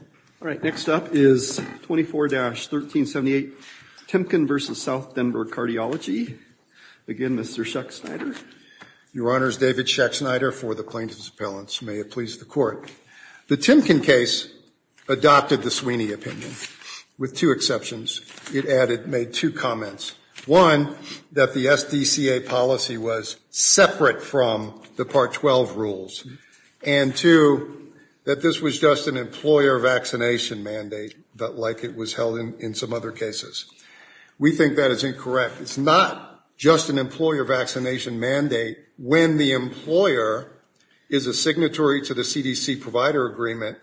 All right. Next up is 24-1378, Timken v. South Denver Cardiology. Again, Mr. Schack-Snyder. Your Honors, David Schack-Snyder for the plaintiff's appellants. May it please the court. The Timken case adopted the Sweeney opinion with two exceptions. It made two comments. One, that the SDCA policy was separate from the Part 12 rules. And two, that this was just an employer vaccination mandate, but like it was held in some other cases. We think that is incorrect. It's not just an employer vaccination mandate when the employer is a signatory to the CDC provider agreement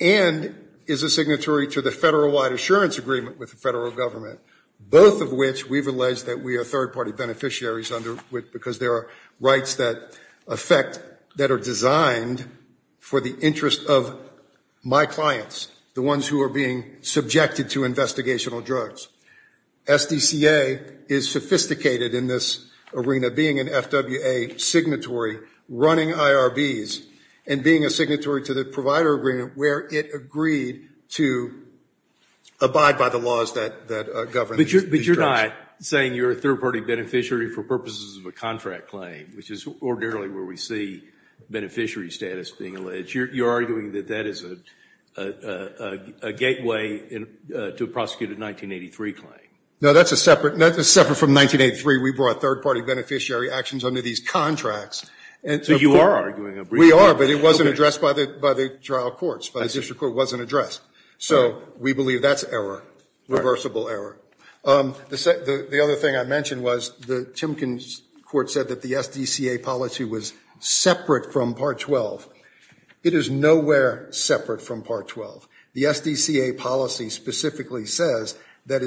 and is a signatory to the federal-wide assurance agreement with the federal government, both of which we've alleged that we are third-party beneficiaries because there are rights that affect, that are designed for the interest of my clients, the ones who are being subjected to investigational drugs. SDCA is sophisticated in this arena, being an FWA signatory, running IRBs, and being a signatory to the provider agreement where it agreed to abide by the laws that govern these drugs. But you're not saying you're a third-party beneficiary for purposes of a contract claim, which is ordinarily where we see beneficiary status being alleged. You're arguing that that is a gateway to a prosecuted 1983 claim. No, that's a separate from 1983. We brought third-party beneficiary actions under these contracts. So you are arguing a brief one. We are, but it wasn't addressed by the trial courts. By the district court, it wasn't addressed. So we believe that's error, reversible error. The other thing I mentioned was the Timkins court said that the SDCA policy was separate from Part 12. It is nowhere separate from Part 12. The SDCA policy specifically says that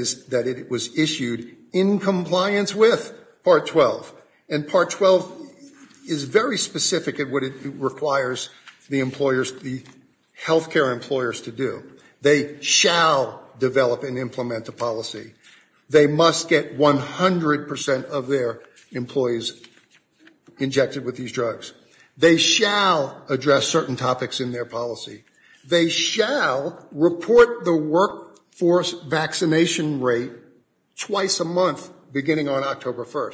it was issued in compliance with Part 12. And Part 12 is very specific in what it requires the health care employers to do. They shall develop and implement a policy. They must get 100% of their employees injected with these drugs. They shall address certain topics in their policy. They shall report the workforce vaccination rate twice a month beginning on October 1.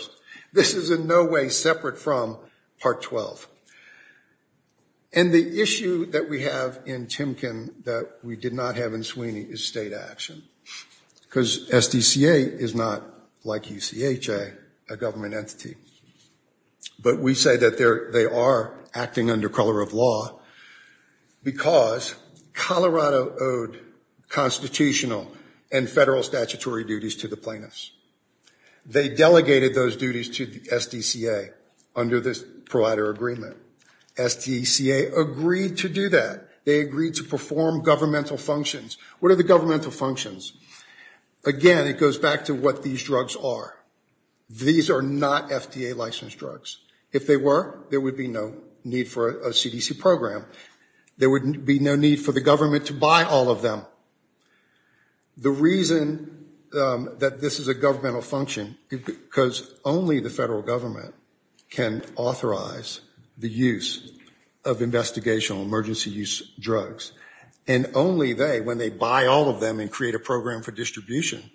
This is in no way separate from Part 12. And the issue that we have in Timkin that we did not have in Sweeney is state action. Because SDCA is not, like UCHA, a government entity. But we say that they are acting under color of law because Colorado owed constitutional and federal statutory duties to the plaintiffs. They delegated those duties to the SDCA under this provider agreement. SDCA agreed to do that. They agreed to perform governmental functions. What are the governmental functions? Again, it goes back to what these drugs are. These are not FDA licensed drugs. If they were, there would be no need for a CDC program. There would be no need for the government to buy all of them. The reason that this is a governmental function because only the federal government can authorize the use of investigational emergency use drugs. And only they, when they buy all of them and create a program for distribution,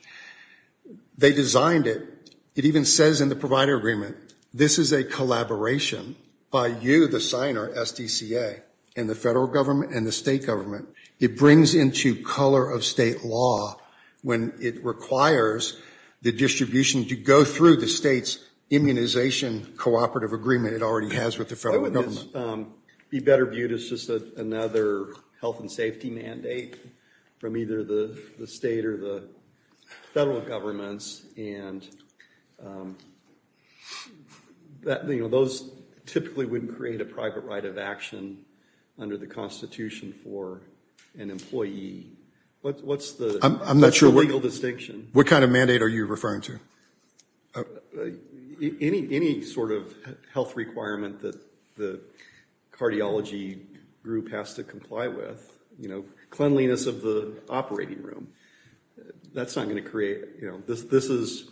they designed it. It even says in the provider agreement, this is a collaboration by you, the signer, SDCA, and the federal government and the state government. It brings into color of state law when it requires the distribution to go through the state's immunization cooperative agreement it already has with the federal government. Be better viewed as just another health and safety mandate from either the state or the federal governments. And those typically wouldn't create a private right of action under the constitution for an employee. What's the? That's the legal distinction. What kind of mandate are you referring to? Any sort of health requirement that the cardiology group has to comply with, cleanliness of the operating room. That's not gonna create, this is.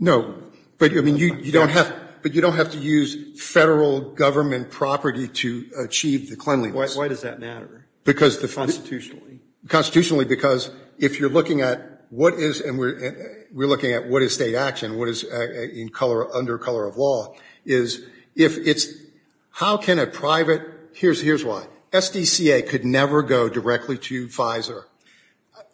No, but you don't have to use federal government property to achieve the cleanliness. Why does that matter? Because the. Constitutionally. Constitutionally, because if you're looking at what is, and we're looking at what is state action, what is in color, under color of law, is if it's, how can a private, here's why. SDCA could never go directly to Pfizer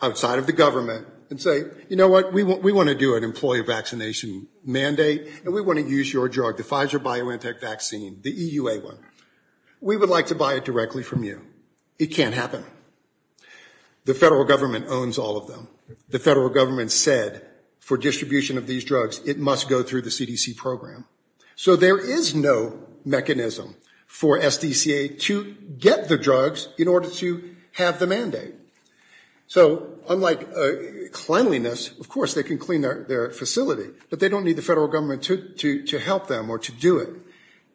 outside of the government and say, you know what? We wanna do an employee vaccination mandate and we wanna use your drug, the Pfizer BioNTech vaccine, the EUA one. We would like to buy it directly from you. It can't happen. The federal government owns all of them. The federal government said for distribution of these drugs, it must go through the CDC program. So there is no mechanism for SDCA to get the drugs in order to have the mandate. So unlike cleanliness, of course, they can clean their facility, but they don't need the federal government to help them or to do it.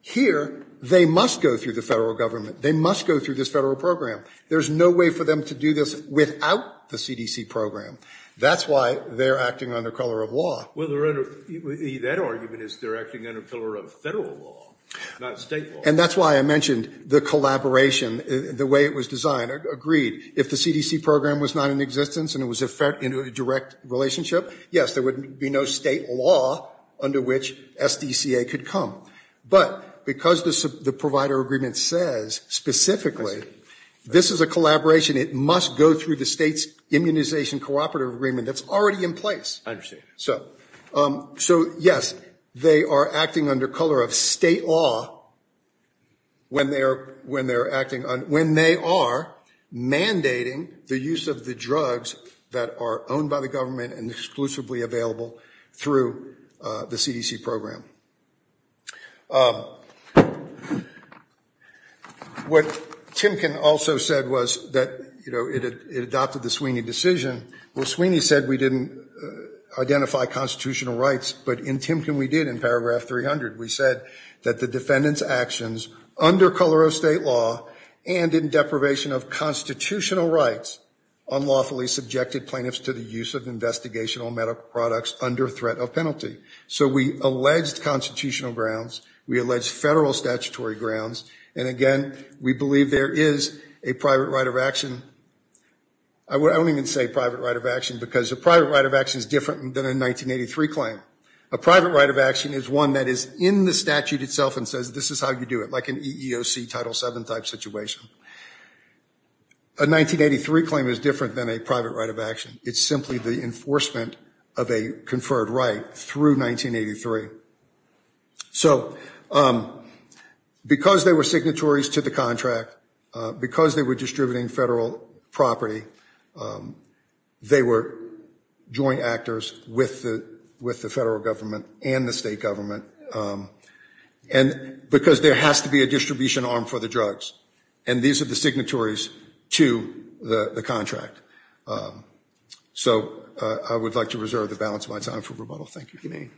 Here, they must go through the federal government. They must go through this federal program. There's no way for them to do this without the CDC program. That's why they're acting under color of law. Well, that argument is they're acting under color of federal law, not state law. And that's why I mentioned the collaboration, the way it was designed, agreed. If the CDC program was not in existence and it was in a direct relationship, yes, there would be no state law under which SDCA could come. But because the provider agreement says specifically, this is a collaboration, it must go through the state's immunization cooperative agreement that's already in place. I understand. So, yes, they are acting under color of state law when they are mandating the use of the drugs that are owned by the government and exclusively available through the CDC program. What Timken also said was that, you know, it adopted the Sweeney decision. Well, Sweeney said we didn't identify constitutional rights, but in Timken, we did in paragraph 300. We said that the defendant's actions under color of state law and in deprivation of constitutional rights unlawfully subjected plaintiffs to the use of investigational medical products under threat of penalty. So we alleged constitutional grounds. We alleged federal statutory grounds. And again, we believe there is a private right of action. I don't even say private right of action because a private right of action is different than a 1983 claim. A private right of action is one that is in the statute itself and says, this is how you do it, like an EEOC Title VII type situation. A 1983 claim is different than a private right of action. It's simply the enforcement of a conferred right through 1983. So, because there were signatories to the contract, because they were distributing federal property, they were joint actors with the federal government and the state government. And because there has to be a distribution arm for the drugs. And these are the signatories to the contract. So I would like to reserve the balance of my time for rebuttal, thank you.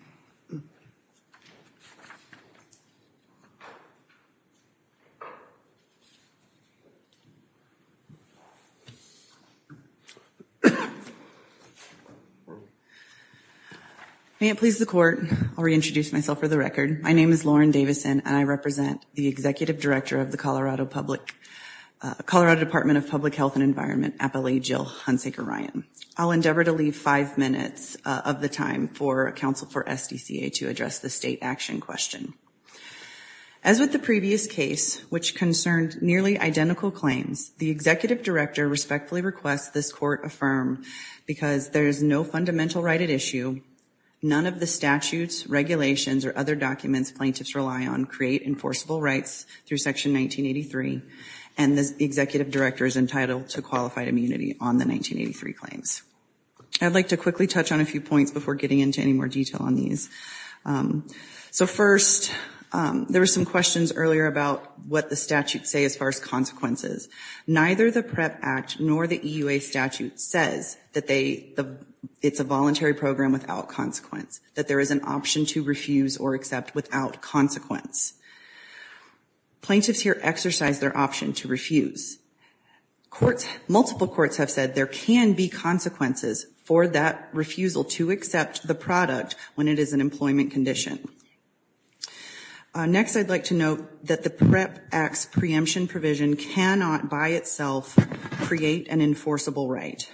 May it please the Court, I'll reintroduce myself for the record. My name is Lauren Davison, and I represent the Executive Director of the Colorado Department of Public Health and Environment, Appellee Jill Hunsaker-Ryan. I'll endeavor to leave five minutes of the time for counsel for SDCA to address the state action question. As with the previous case, which concerned nearly identical claims, the Executive Director respectfully requests this Court affirm, because there is no fundamental right at issue, none of the statutes, regulations, or other documents plaintiffs rely on create enforceable rights through Section 1983, and the Executive Director is entitled to qualified immunity on the 1983 claims. I'd like to quickly touch on a few points before getting into any more detail on these. So first, there were some questions earlier about what the statutes say as far as consequences. Neither the PREP Act nor the EUA statute says that it's a voluntary program without consequence, that there is an option to refuse or accept without consequence. Plaintiffs here exercise their option to refuse. Courts, multiple courts have said there can be consequences for that refusal to accept the product when it is an employment condition. Next, I'd like to note that the PREP Act's preemption provision cannot by itself create an enforceable right.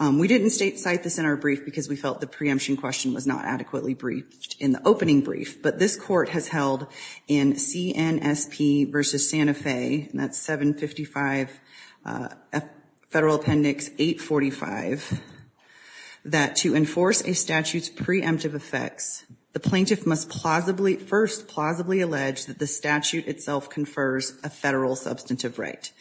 We didn't cite this in our brief because we felt the preemption question was not adequately briefed in the opening brief, but this Court has held in CNSP versus Santa Fe, and that's 755 Federal Appendix 845, that to enforce a statute's preemptive effects, the plaintiff must first plausibly allege that the statute itself confers a federal substantive right.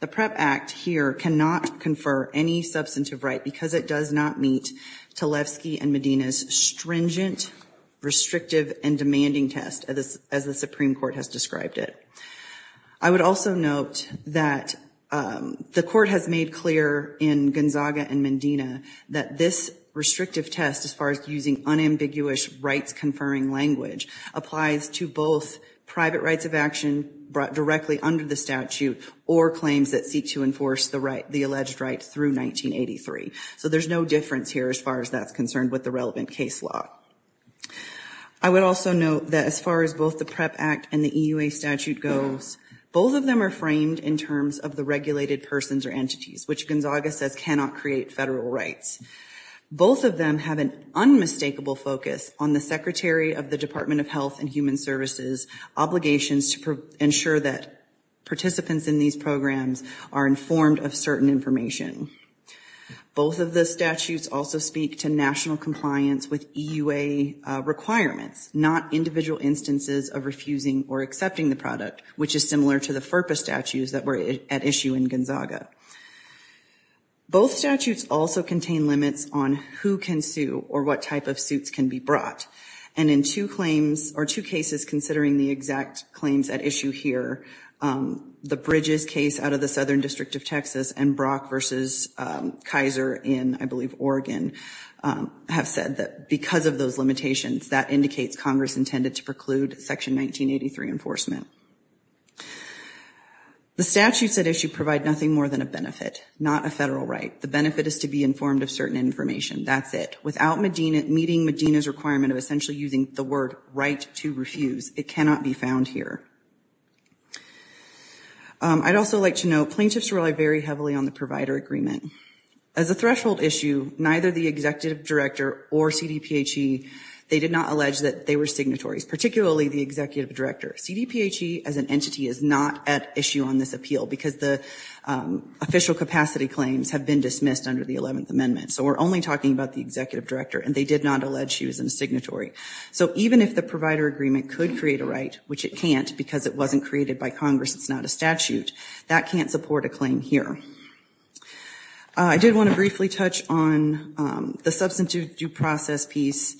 The PREP Act here cannot confer any substantive right because it does not meet Tlaibsky and Medina's stringent, restrictive, and demanding test as the Supreme Court has described it. I would also note that the Court has made clear in Gonzaga and Medina that this restrictive test, as far as using unambiguous rights-conferring language, applies to both private rights of action brought directly under the statute, or claims that seek to enforce the alleged right through 1983, so there's no difference here as far as that's concerned with the relevant case law. I would also note that as far as both the PREP Act and the EUA statute goes, both of them are framed in terms of the regulated persons or entities, which Gonzaga says cannot create federal rights. Both of them have an unmistakable focus on the Secretary of the Department of Health and Human Services' obligations to ensure that participants in these programs are informed of certain information. Both of the statutes also speak to national compliance with EUA requirements, not individual instances of refusing or accepting the product, which is similar to the FERPA statutes that were at issue in Gonzaga. Both statutes also contain limits on who can sue or what type of suits can be brought, and in two claims, or two cases, considering the exact claims at issue here, the Bridges case out of the Southern District of Texas and Brock v. Kaiser in, I believe, Oregon, have said that because of those limitations, that indicates Congress intended to preclude Section 1983 enforcement. The statutes at issue provide nothing more than a benefit, not a federal right. The benefit is to be informed of certain information. That's it. Without meeting Medina's requirement of essentially using the word right to refuse, it cannot be found here. I'd also like to note, plaintiffs rely very heavily on the provider agreement. As a threshold issue, neither the Executive Director or CDPHE, they did not allege that they were signatories, particularly the Executive Director. CDPHE, as an entity, is not at issue on this appeal because the official capacity claims have been dismissed under the 11th Amendment, so we're only talking about the Executive Director, and they did not allege she was a signatory. So even if the provider agreement could create a right, which it can't because it wasn't created by Congress, it's not a statute, that can't support a claim here. I did want to briefly touch on the substantive due process piece.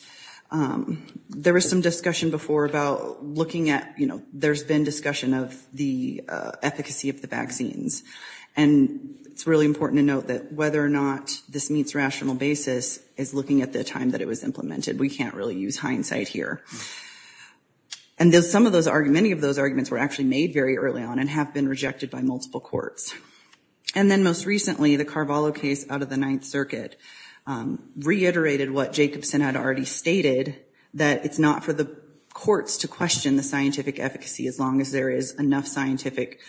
There was some discussion before about looking at, there's been discussion of the efficacy of the vaccines, and it's really important to note that whether or not this meets rational basis is looking at the time that it was implemented. We can't really use hindsight here. And some of those arguments, many of those arguments were actually made very early on and have been rejected by multiple courts. And then most recently, the Carvalho case out of the Ninth Circuit reiterated what Jacobson had already stated, that it's not for the courts to question the scientific efficacy as long as there is enough scientific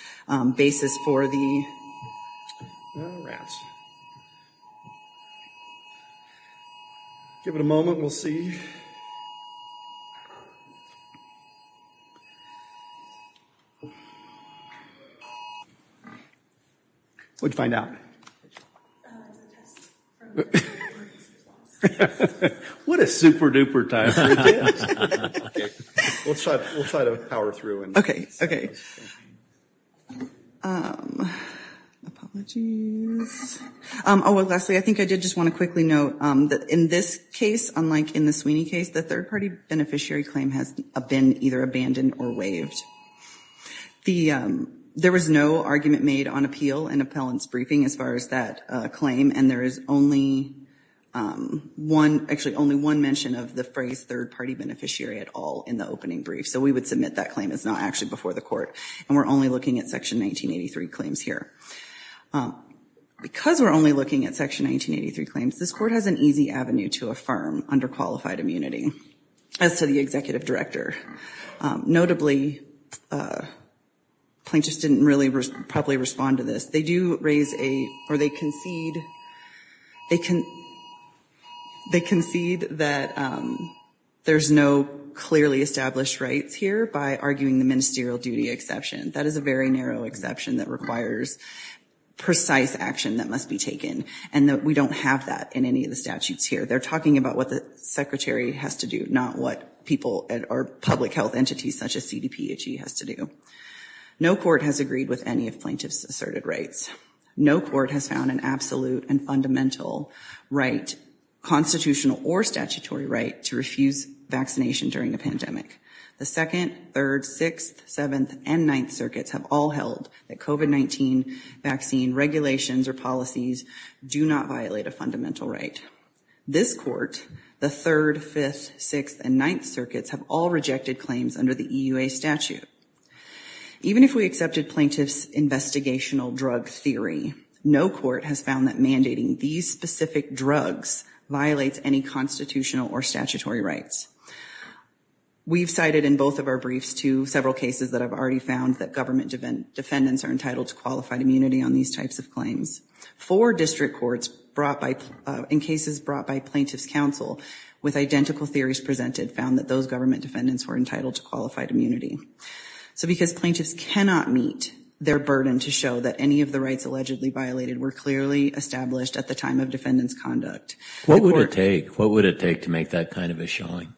basis for the. All right. Give it a moment, we'll see. What'd you find out? Okay. What a super-duper time. We'll try to power through. Okay, okay. Apologies. Oh, well, Leslie, I think I did just want to quickly note that in this case, unlike in the Sweeney case, the third-party beneficiary claim has been either abandoned or waived. There was no argument made on appeal in appellant's briefing as far as that claim. And there is only one, actually only one mention of the phrase third-party beneficiary at all in the opening brief. So we would submit that claim as not actually before the court. And we're only looking at Section 1983 claims here. Because we're only looking at Section 1983 claims, this court has an easy avenue to affirm underqualified immunity as to the executive director. Notably, plaintiffs didn't really properly respond to this. They do raise a, or they concede, they concede that there's no clearly established rights here by arguing the ministerial duty exception. That is a very narrow exception that requires precise action that must be taken. And we don't have that in any of the statutes here. They're talking about what the secretary has to do, not what people or public health entities such as CDPHE has to do. No court has agreed with any of plaintiff's asserted rights. No court has found an absolute and fundamental right, constitutional or statutory right, to refuse vaccination during a pandemic. The Second, Third, Sixth, Seventh, and Ninth Circuits have all held that COVID-19 vaccine regulations or policies do not violate a fundamental right. This court, the Third, Fifth, Sixth, and Ninth Circuits have all rejected claims under the EUA statute. Even if we accepted plaintiff's investigational drug theory, no court has found that mandating these specific drugs violates any constitutional or statutory rights. We've cited in both of our briefs to several cases that I've already found that government defendants are entitled to qualified immunity on these types of claims. Four district courts in cases brought by plaintiff's counsel with identical theories presented found that those government defendants were entitled to qualified immunity. So because plaintiffs cannot meet their burden to show that any of the rights allegedly violated were clearly established at the time of defendant's conduct. What would it take, what would it take to make that kind of a showing?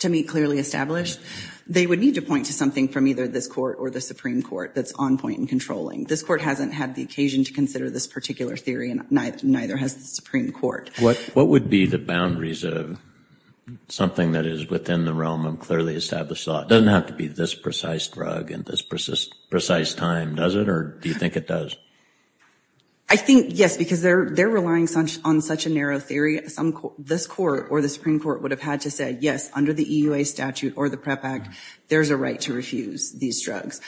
To meet clearly established? They would need to point to something from either this court or the Supreme Court that's on point and controlling. This court hasn't had the occasion to consider this particular theory and neither has the Supreme Court. What would be the boundaries of something that is within the realm of clearly established law? It doesn't have to be this precise drug in this precise time, does it? Or do you think it does? I think, yes, because they're relying on such a narrow theory. This court or the Supreme Court would have had to say, yes, under the EUA statute or the PREP Act, there's a right to refuse these drugs.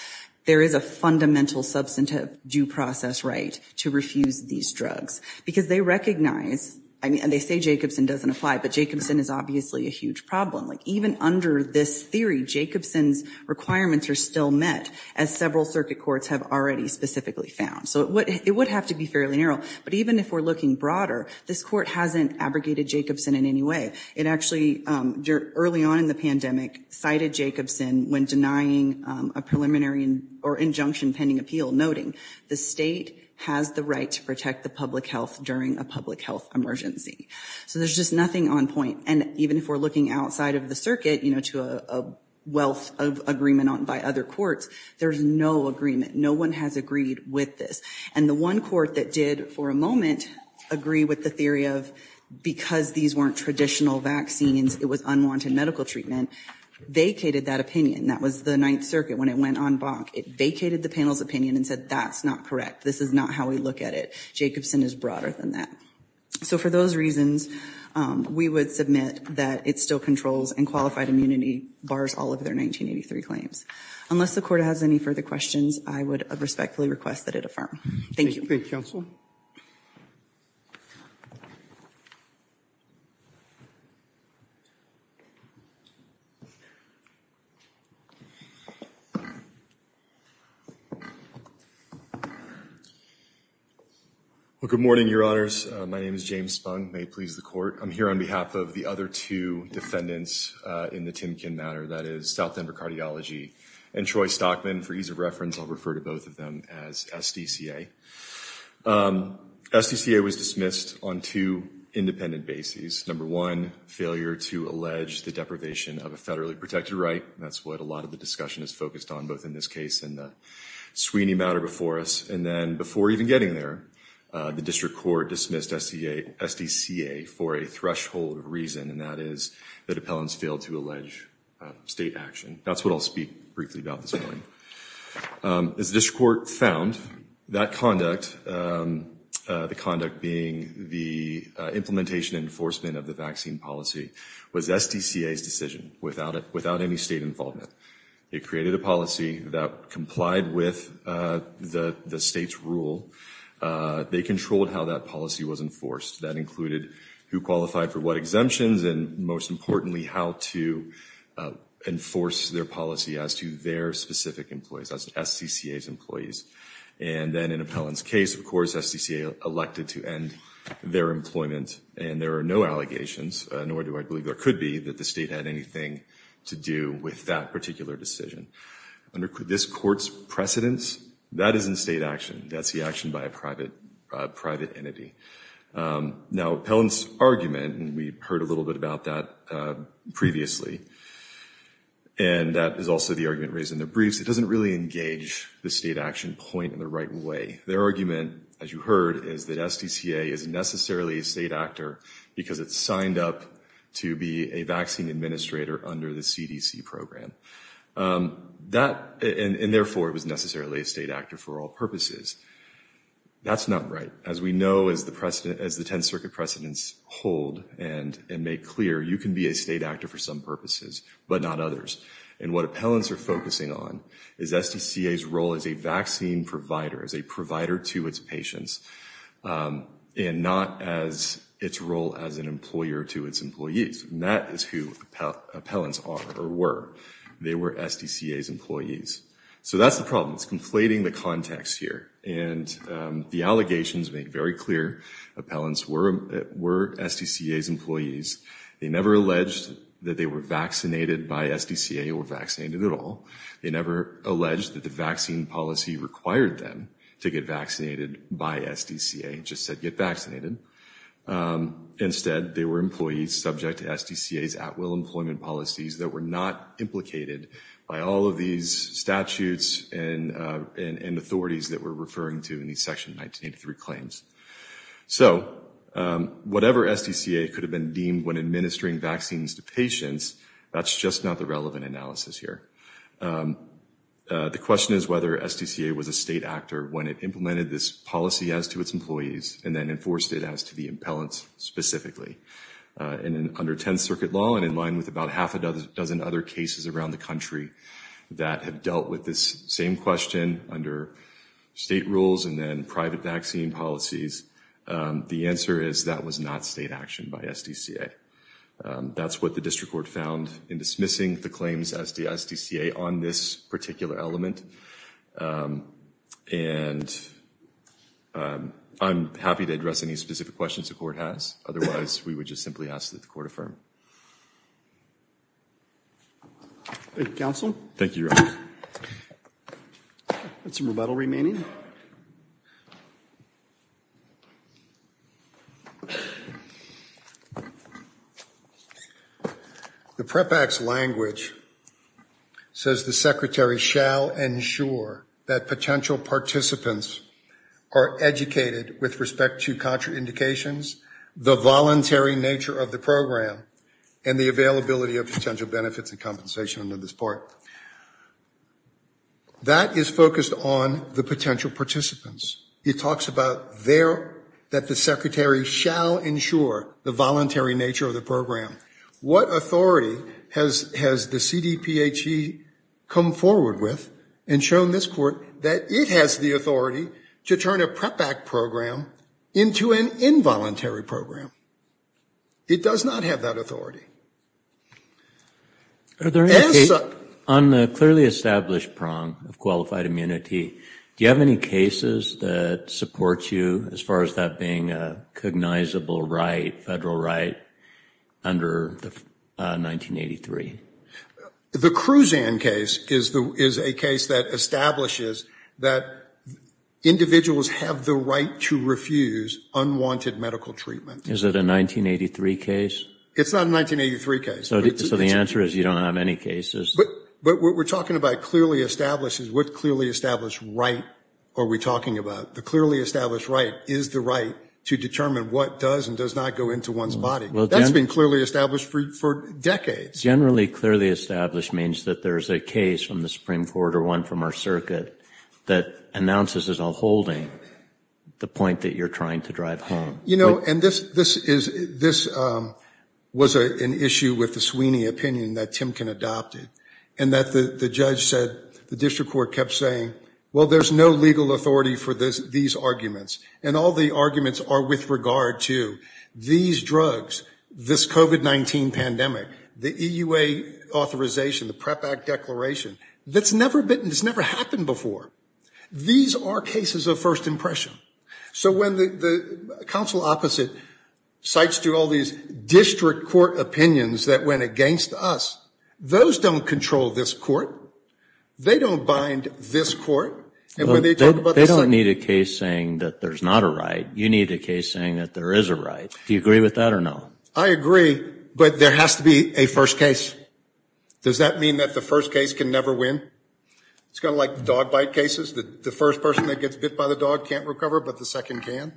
There is a fundamental substantive due process right to refuse these drugs. Because they recognize, I mean, and they say Jacobson doesn't apply, but Jacobson is obviously a huge problem. Like even under this theory, Jacobson's requirements are still met as several circuit courts have already specifically found. So it would have to be fairly narrow. But even if we're looking broader, this court hasn't abrogated Jacobson in any way. It actually, early on in the pandemic, cited Jacobson when denying a preliminary or injunction pending appeal noting, the state has the right to protect the public health during a public health emergency. So there's just nothing on point. And even if we're looking outside of the circuit, to a wealth of agreement by other courts, there's no agreement. No one has agreed with this. And the one court that did, for a moment, agree with the theory of, because these weren't traditional vaccines, it was unwanted medical treatment, vacated that opinion. That was the Ninth Circuit when it went en banc. It vacated the panel's opinion and said, that's not correct. This is not how we look at it. Jacobson is broader than that. So for those reasons, we would submit that it still controls and qualified immunity bars all of their 1983 claims. Unless the court has any further questions, I would respectfully request that it affirm. Thank you. Thank you, counsel. Well, good morning, your honors. My name is James Spung. May it please the court. I'm here on behalf of the other two defendants in the Timkin matter, that is South Denver Cardiology and Troy Stockman. For ease of reference, I'll refer to both of them as SDCA. SDCA was dismissed on two independent bases. Number one, failure to allege the deprivation of a federally protected right. That's what a lot of the discussion is focused on, both in this case and the Sweeney matter before us. And then before even getting there, the district court dismissed SDCA for a threshold reason, and that is that appellants failed to allege state action. That's what I'll speak briefly about this morning. As the district court found, that conduct, the conduct being the implementation enforcement of the vaccine policy was SDCA's decision without any state involvement. It created a policy that complied with the state's rule. They controlled how that policy was enforced. That included who qualified for what exemptions and most importantly, how to enforce their policy as to their specific employees. That's SDCA's employees. And then in appellant's case, of course, SDCA elected to end their employment, and there are no allegations, nor do I believe there could be, that the state had anything to do with that particular decision. Under this court's precedence, that isn't state action. That's the action by a private entity. Now, appellant's argument, and we heard a little bit about that previously, and that is also the argument raised in the briefs, doesn't really engage the state action point in the right way. Their argument, as you heard, is that SDCA isn't necessarily a state actor because it's signed up to be a vaccine administrator under the CDC program. That, and therefore, it was necessarily a state actor for all purposes. That's not right. As we know, as the 10th Circuit precedents hold and make clear, you can be a state actor for some purposes, but not others. And what appellants are focusing on is SDCA's role as a vaccine provider, as a provider to its patients, and not as its role as an employer to its employees. And that is who appellants are, or were. They were SDCA's employees. So that's the problem. It's conflating the context here. And the allegations make very clear appellants were SDCA's employees. They never alleged that they were vaccinated by SDCA or vaccinated at all. They never alleged that the vaccine policy required them to get vaccinated by SDCA. It just said, get vaccinated. Instead, they were employees subject to SDCA's at-will employment policies that were not implicated by all of these statutes and authorities that we're referring to in these Section 1983 claims. So, whatever SDCA could have been deemed when administering vaccines to patients, that's just not the relevant analysis here. The question is whether SDCA was a state actor when it implemented this policy as to its employees, and then enforced it as to the appellants specifically. And under 10th Circuit law, and in line with about half a dozen other cases around the country that have dealt with this same question under state rules and then private vaccine policies, the answer is that was not state action by SDCA. That's what the District Court found in dismissing the claims as the SDCA on this particular element. And I'm happy to address any specific questions the Court has. Otherwise, we would just simply ask that the Court affirm. Thank you, Counsel. Thank you, Your Honor. That's a rebuttal remaining. The PREPAX language says the Secretary shall ensure that potential participants are educated with respect to contraindications, the voluntary nature of the program, and the availability of potential benefits and compensation under this part. That is focused on the potential participants. It talks about there that the Secretary shall ensure the voluntary nature of the program. What authority has the CDPHE come forward with and shown this Court that it has the authority to turn a PREPAX program into an involuntary program? It does not have that authority. Are there any cases on the clearly established prong of qualified immunity, do you have any cases that support you as far as that being a cognizable right, federal right, under the 1983? The Cruzan case is a case that establishes that individuals have the right to refuse unwanted medical treatment. Is it a 1983 case? It's not a 1983 case. So the answer is you don't have any cases. But what we're talking about clearly established is what clearly established right are we talking about? The clearly established right is the right to determine what does and does not go into one's body. That's been clearly established for decades. Generally clearly established means that there's a case from the Supreme Court or one from our circuit that announces as a holding the point that you're trying to drive home. And this was an issue with the Sweeney opinion that Timken adopted. And that the judge said, the district court kept saying, well, there's no legal authority for these arguments. And all the arguments are with regard to these drugs, this COVID-19 pandemic, the EUA authorization, the PREP Act declaration. That's never been, it's never happened before. These are cases of first impression. So when the council opposite cites to all these district court opinions that went against us, those don't control this court. They don't bind this court. And when they talk about- They don't need a case saying that there's not a right. You need a case saying that there is a right. Do you agree with that or no? I agree, but there has to be a first case. Does that mean that the first case can never win? It's kind of like dog bite cases. The first person that gets bit by the dog can't recover, but the second can?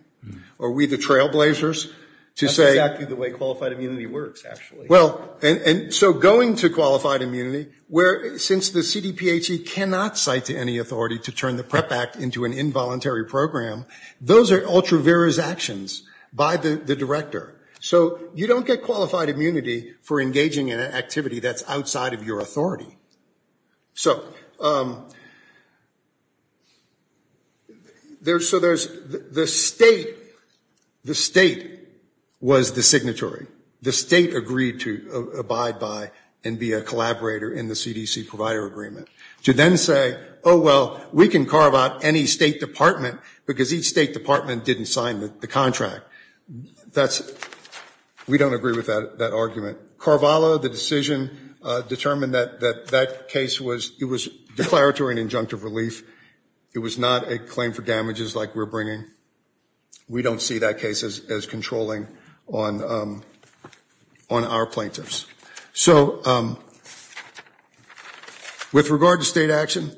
Are we the trailblazers to say- That's exactly the way qualified immunity works, actually. Well, and so going to qualified immunity, where since the CDPHE cannot cite to any authority to turn the PREP Act into an involuntary program, those are ultra-virus actions by the director. So you don't get qualified immunity for engaging in an activity that's outside of your authority. So, there's the state, the state was the signatory. The state agreed to abide by and be a collaborator in the CDC provider agreement. To then say, oh, well, we can carve out any state department because each state department didn't sign the contract. That's, we don't agree with that argument. Carvalho, the decision determined that that case was, it was declaratory and injunctive relief. It was not a claim for damages like we're bringing. We don't see that case as controlling on our plaintiffs. So, with regard to state action,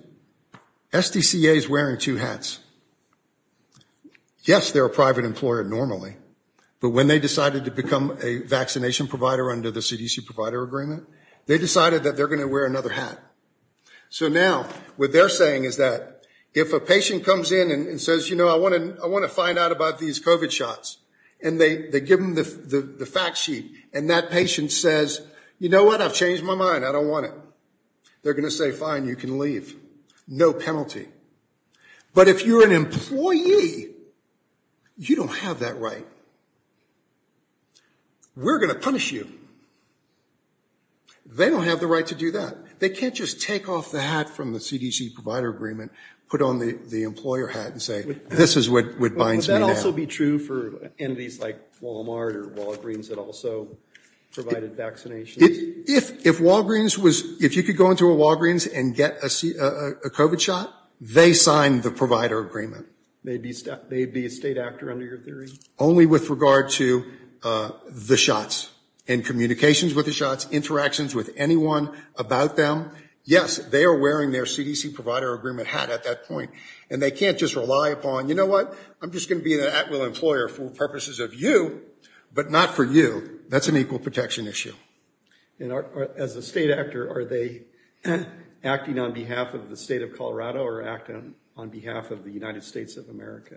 SDCA is wearing two hats. Yes, they're a private employer normally, but when they decided to become a vaccination provider under the CDC provider agreement, they decided that they're gonna wear another hat. So now, what they're saying is that, if a patient comes in and says, you know, I wanna find out about these COVID shots, and they give them the fact sheet, and that patient says, you know what, I've changed my mind, I don't want it. They're gonna say, fine, you can leave, no penalty. But if you're an employee, you don't have that right. So, we're gonna punish you. They don't have the right to do that. They can't just take off the hat from the CDC provider agreement, put on the employer hat and say, this is what binds me now. Would that also be true for entities like Walmart or Walgreens that also provided vaccinations? If Walgreens was, if you could go into a Walgreens and get a COVID shot, they signed the provider agreement. Maybe a state actor under your theory? Only with regard to the shots and communications with the shots, interactions with anyone about them. Yes, they are wearing their CDC provider agreement hat at that point, and they can't just rely upon, you know what, I'm just gonna be an at-will employer for purposes of you, but not for you. That's an equal protection issue. And as a state actor, are they acting on behalf of the state of Colorado or acting on behalf of the United States of America?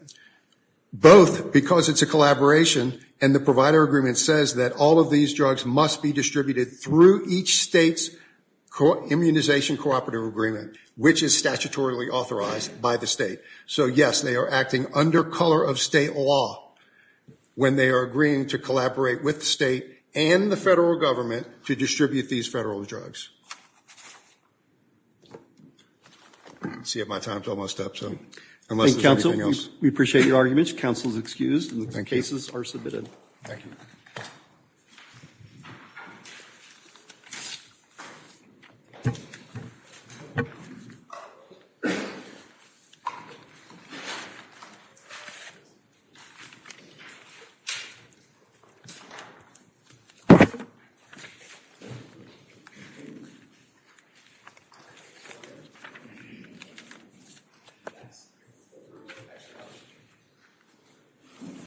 Both, because it's a collaboration and the provider agreement says that all of these drugs must be distributed through each state's immunization cooperative agreement, which is statutorily authorized by the state. So yes, they are acting under color of state law when they are agreeing to collaborate with the state and the federal government to distribute these federal drugs. Let's see if my time's almost up, so, unless there's anything else. We appreciate your arguments. Counsel is excused and the cases are submitted. Thank you. Thank you.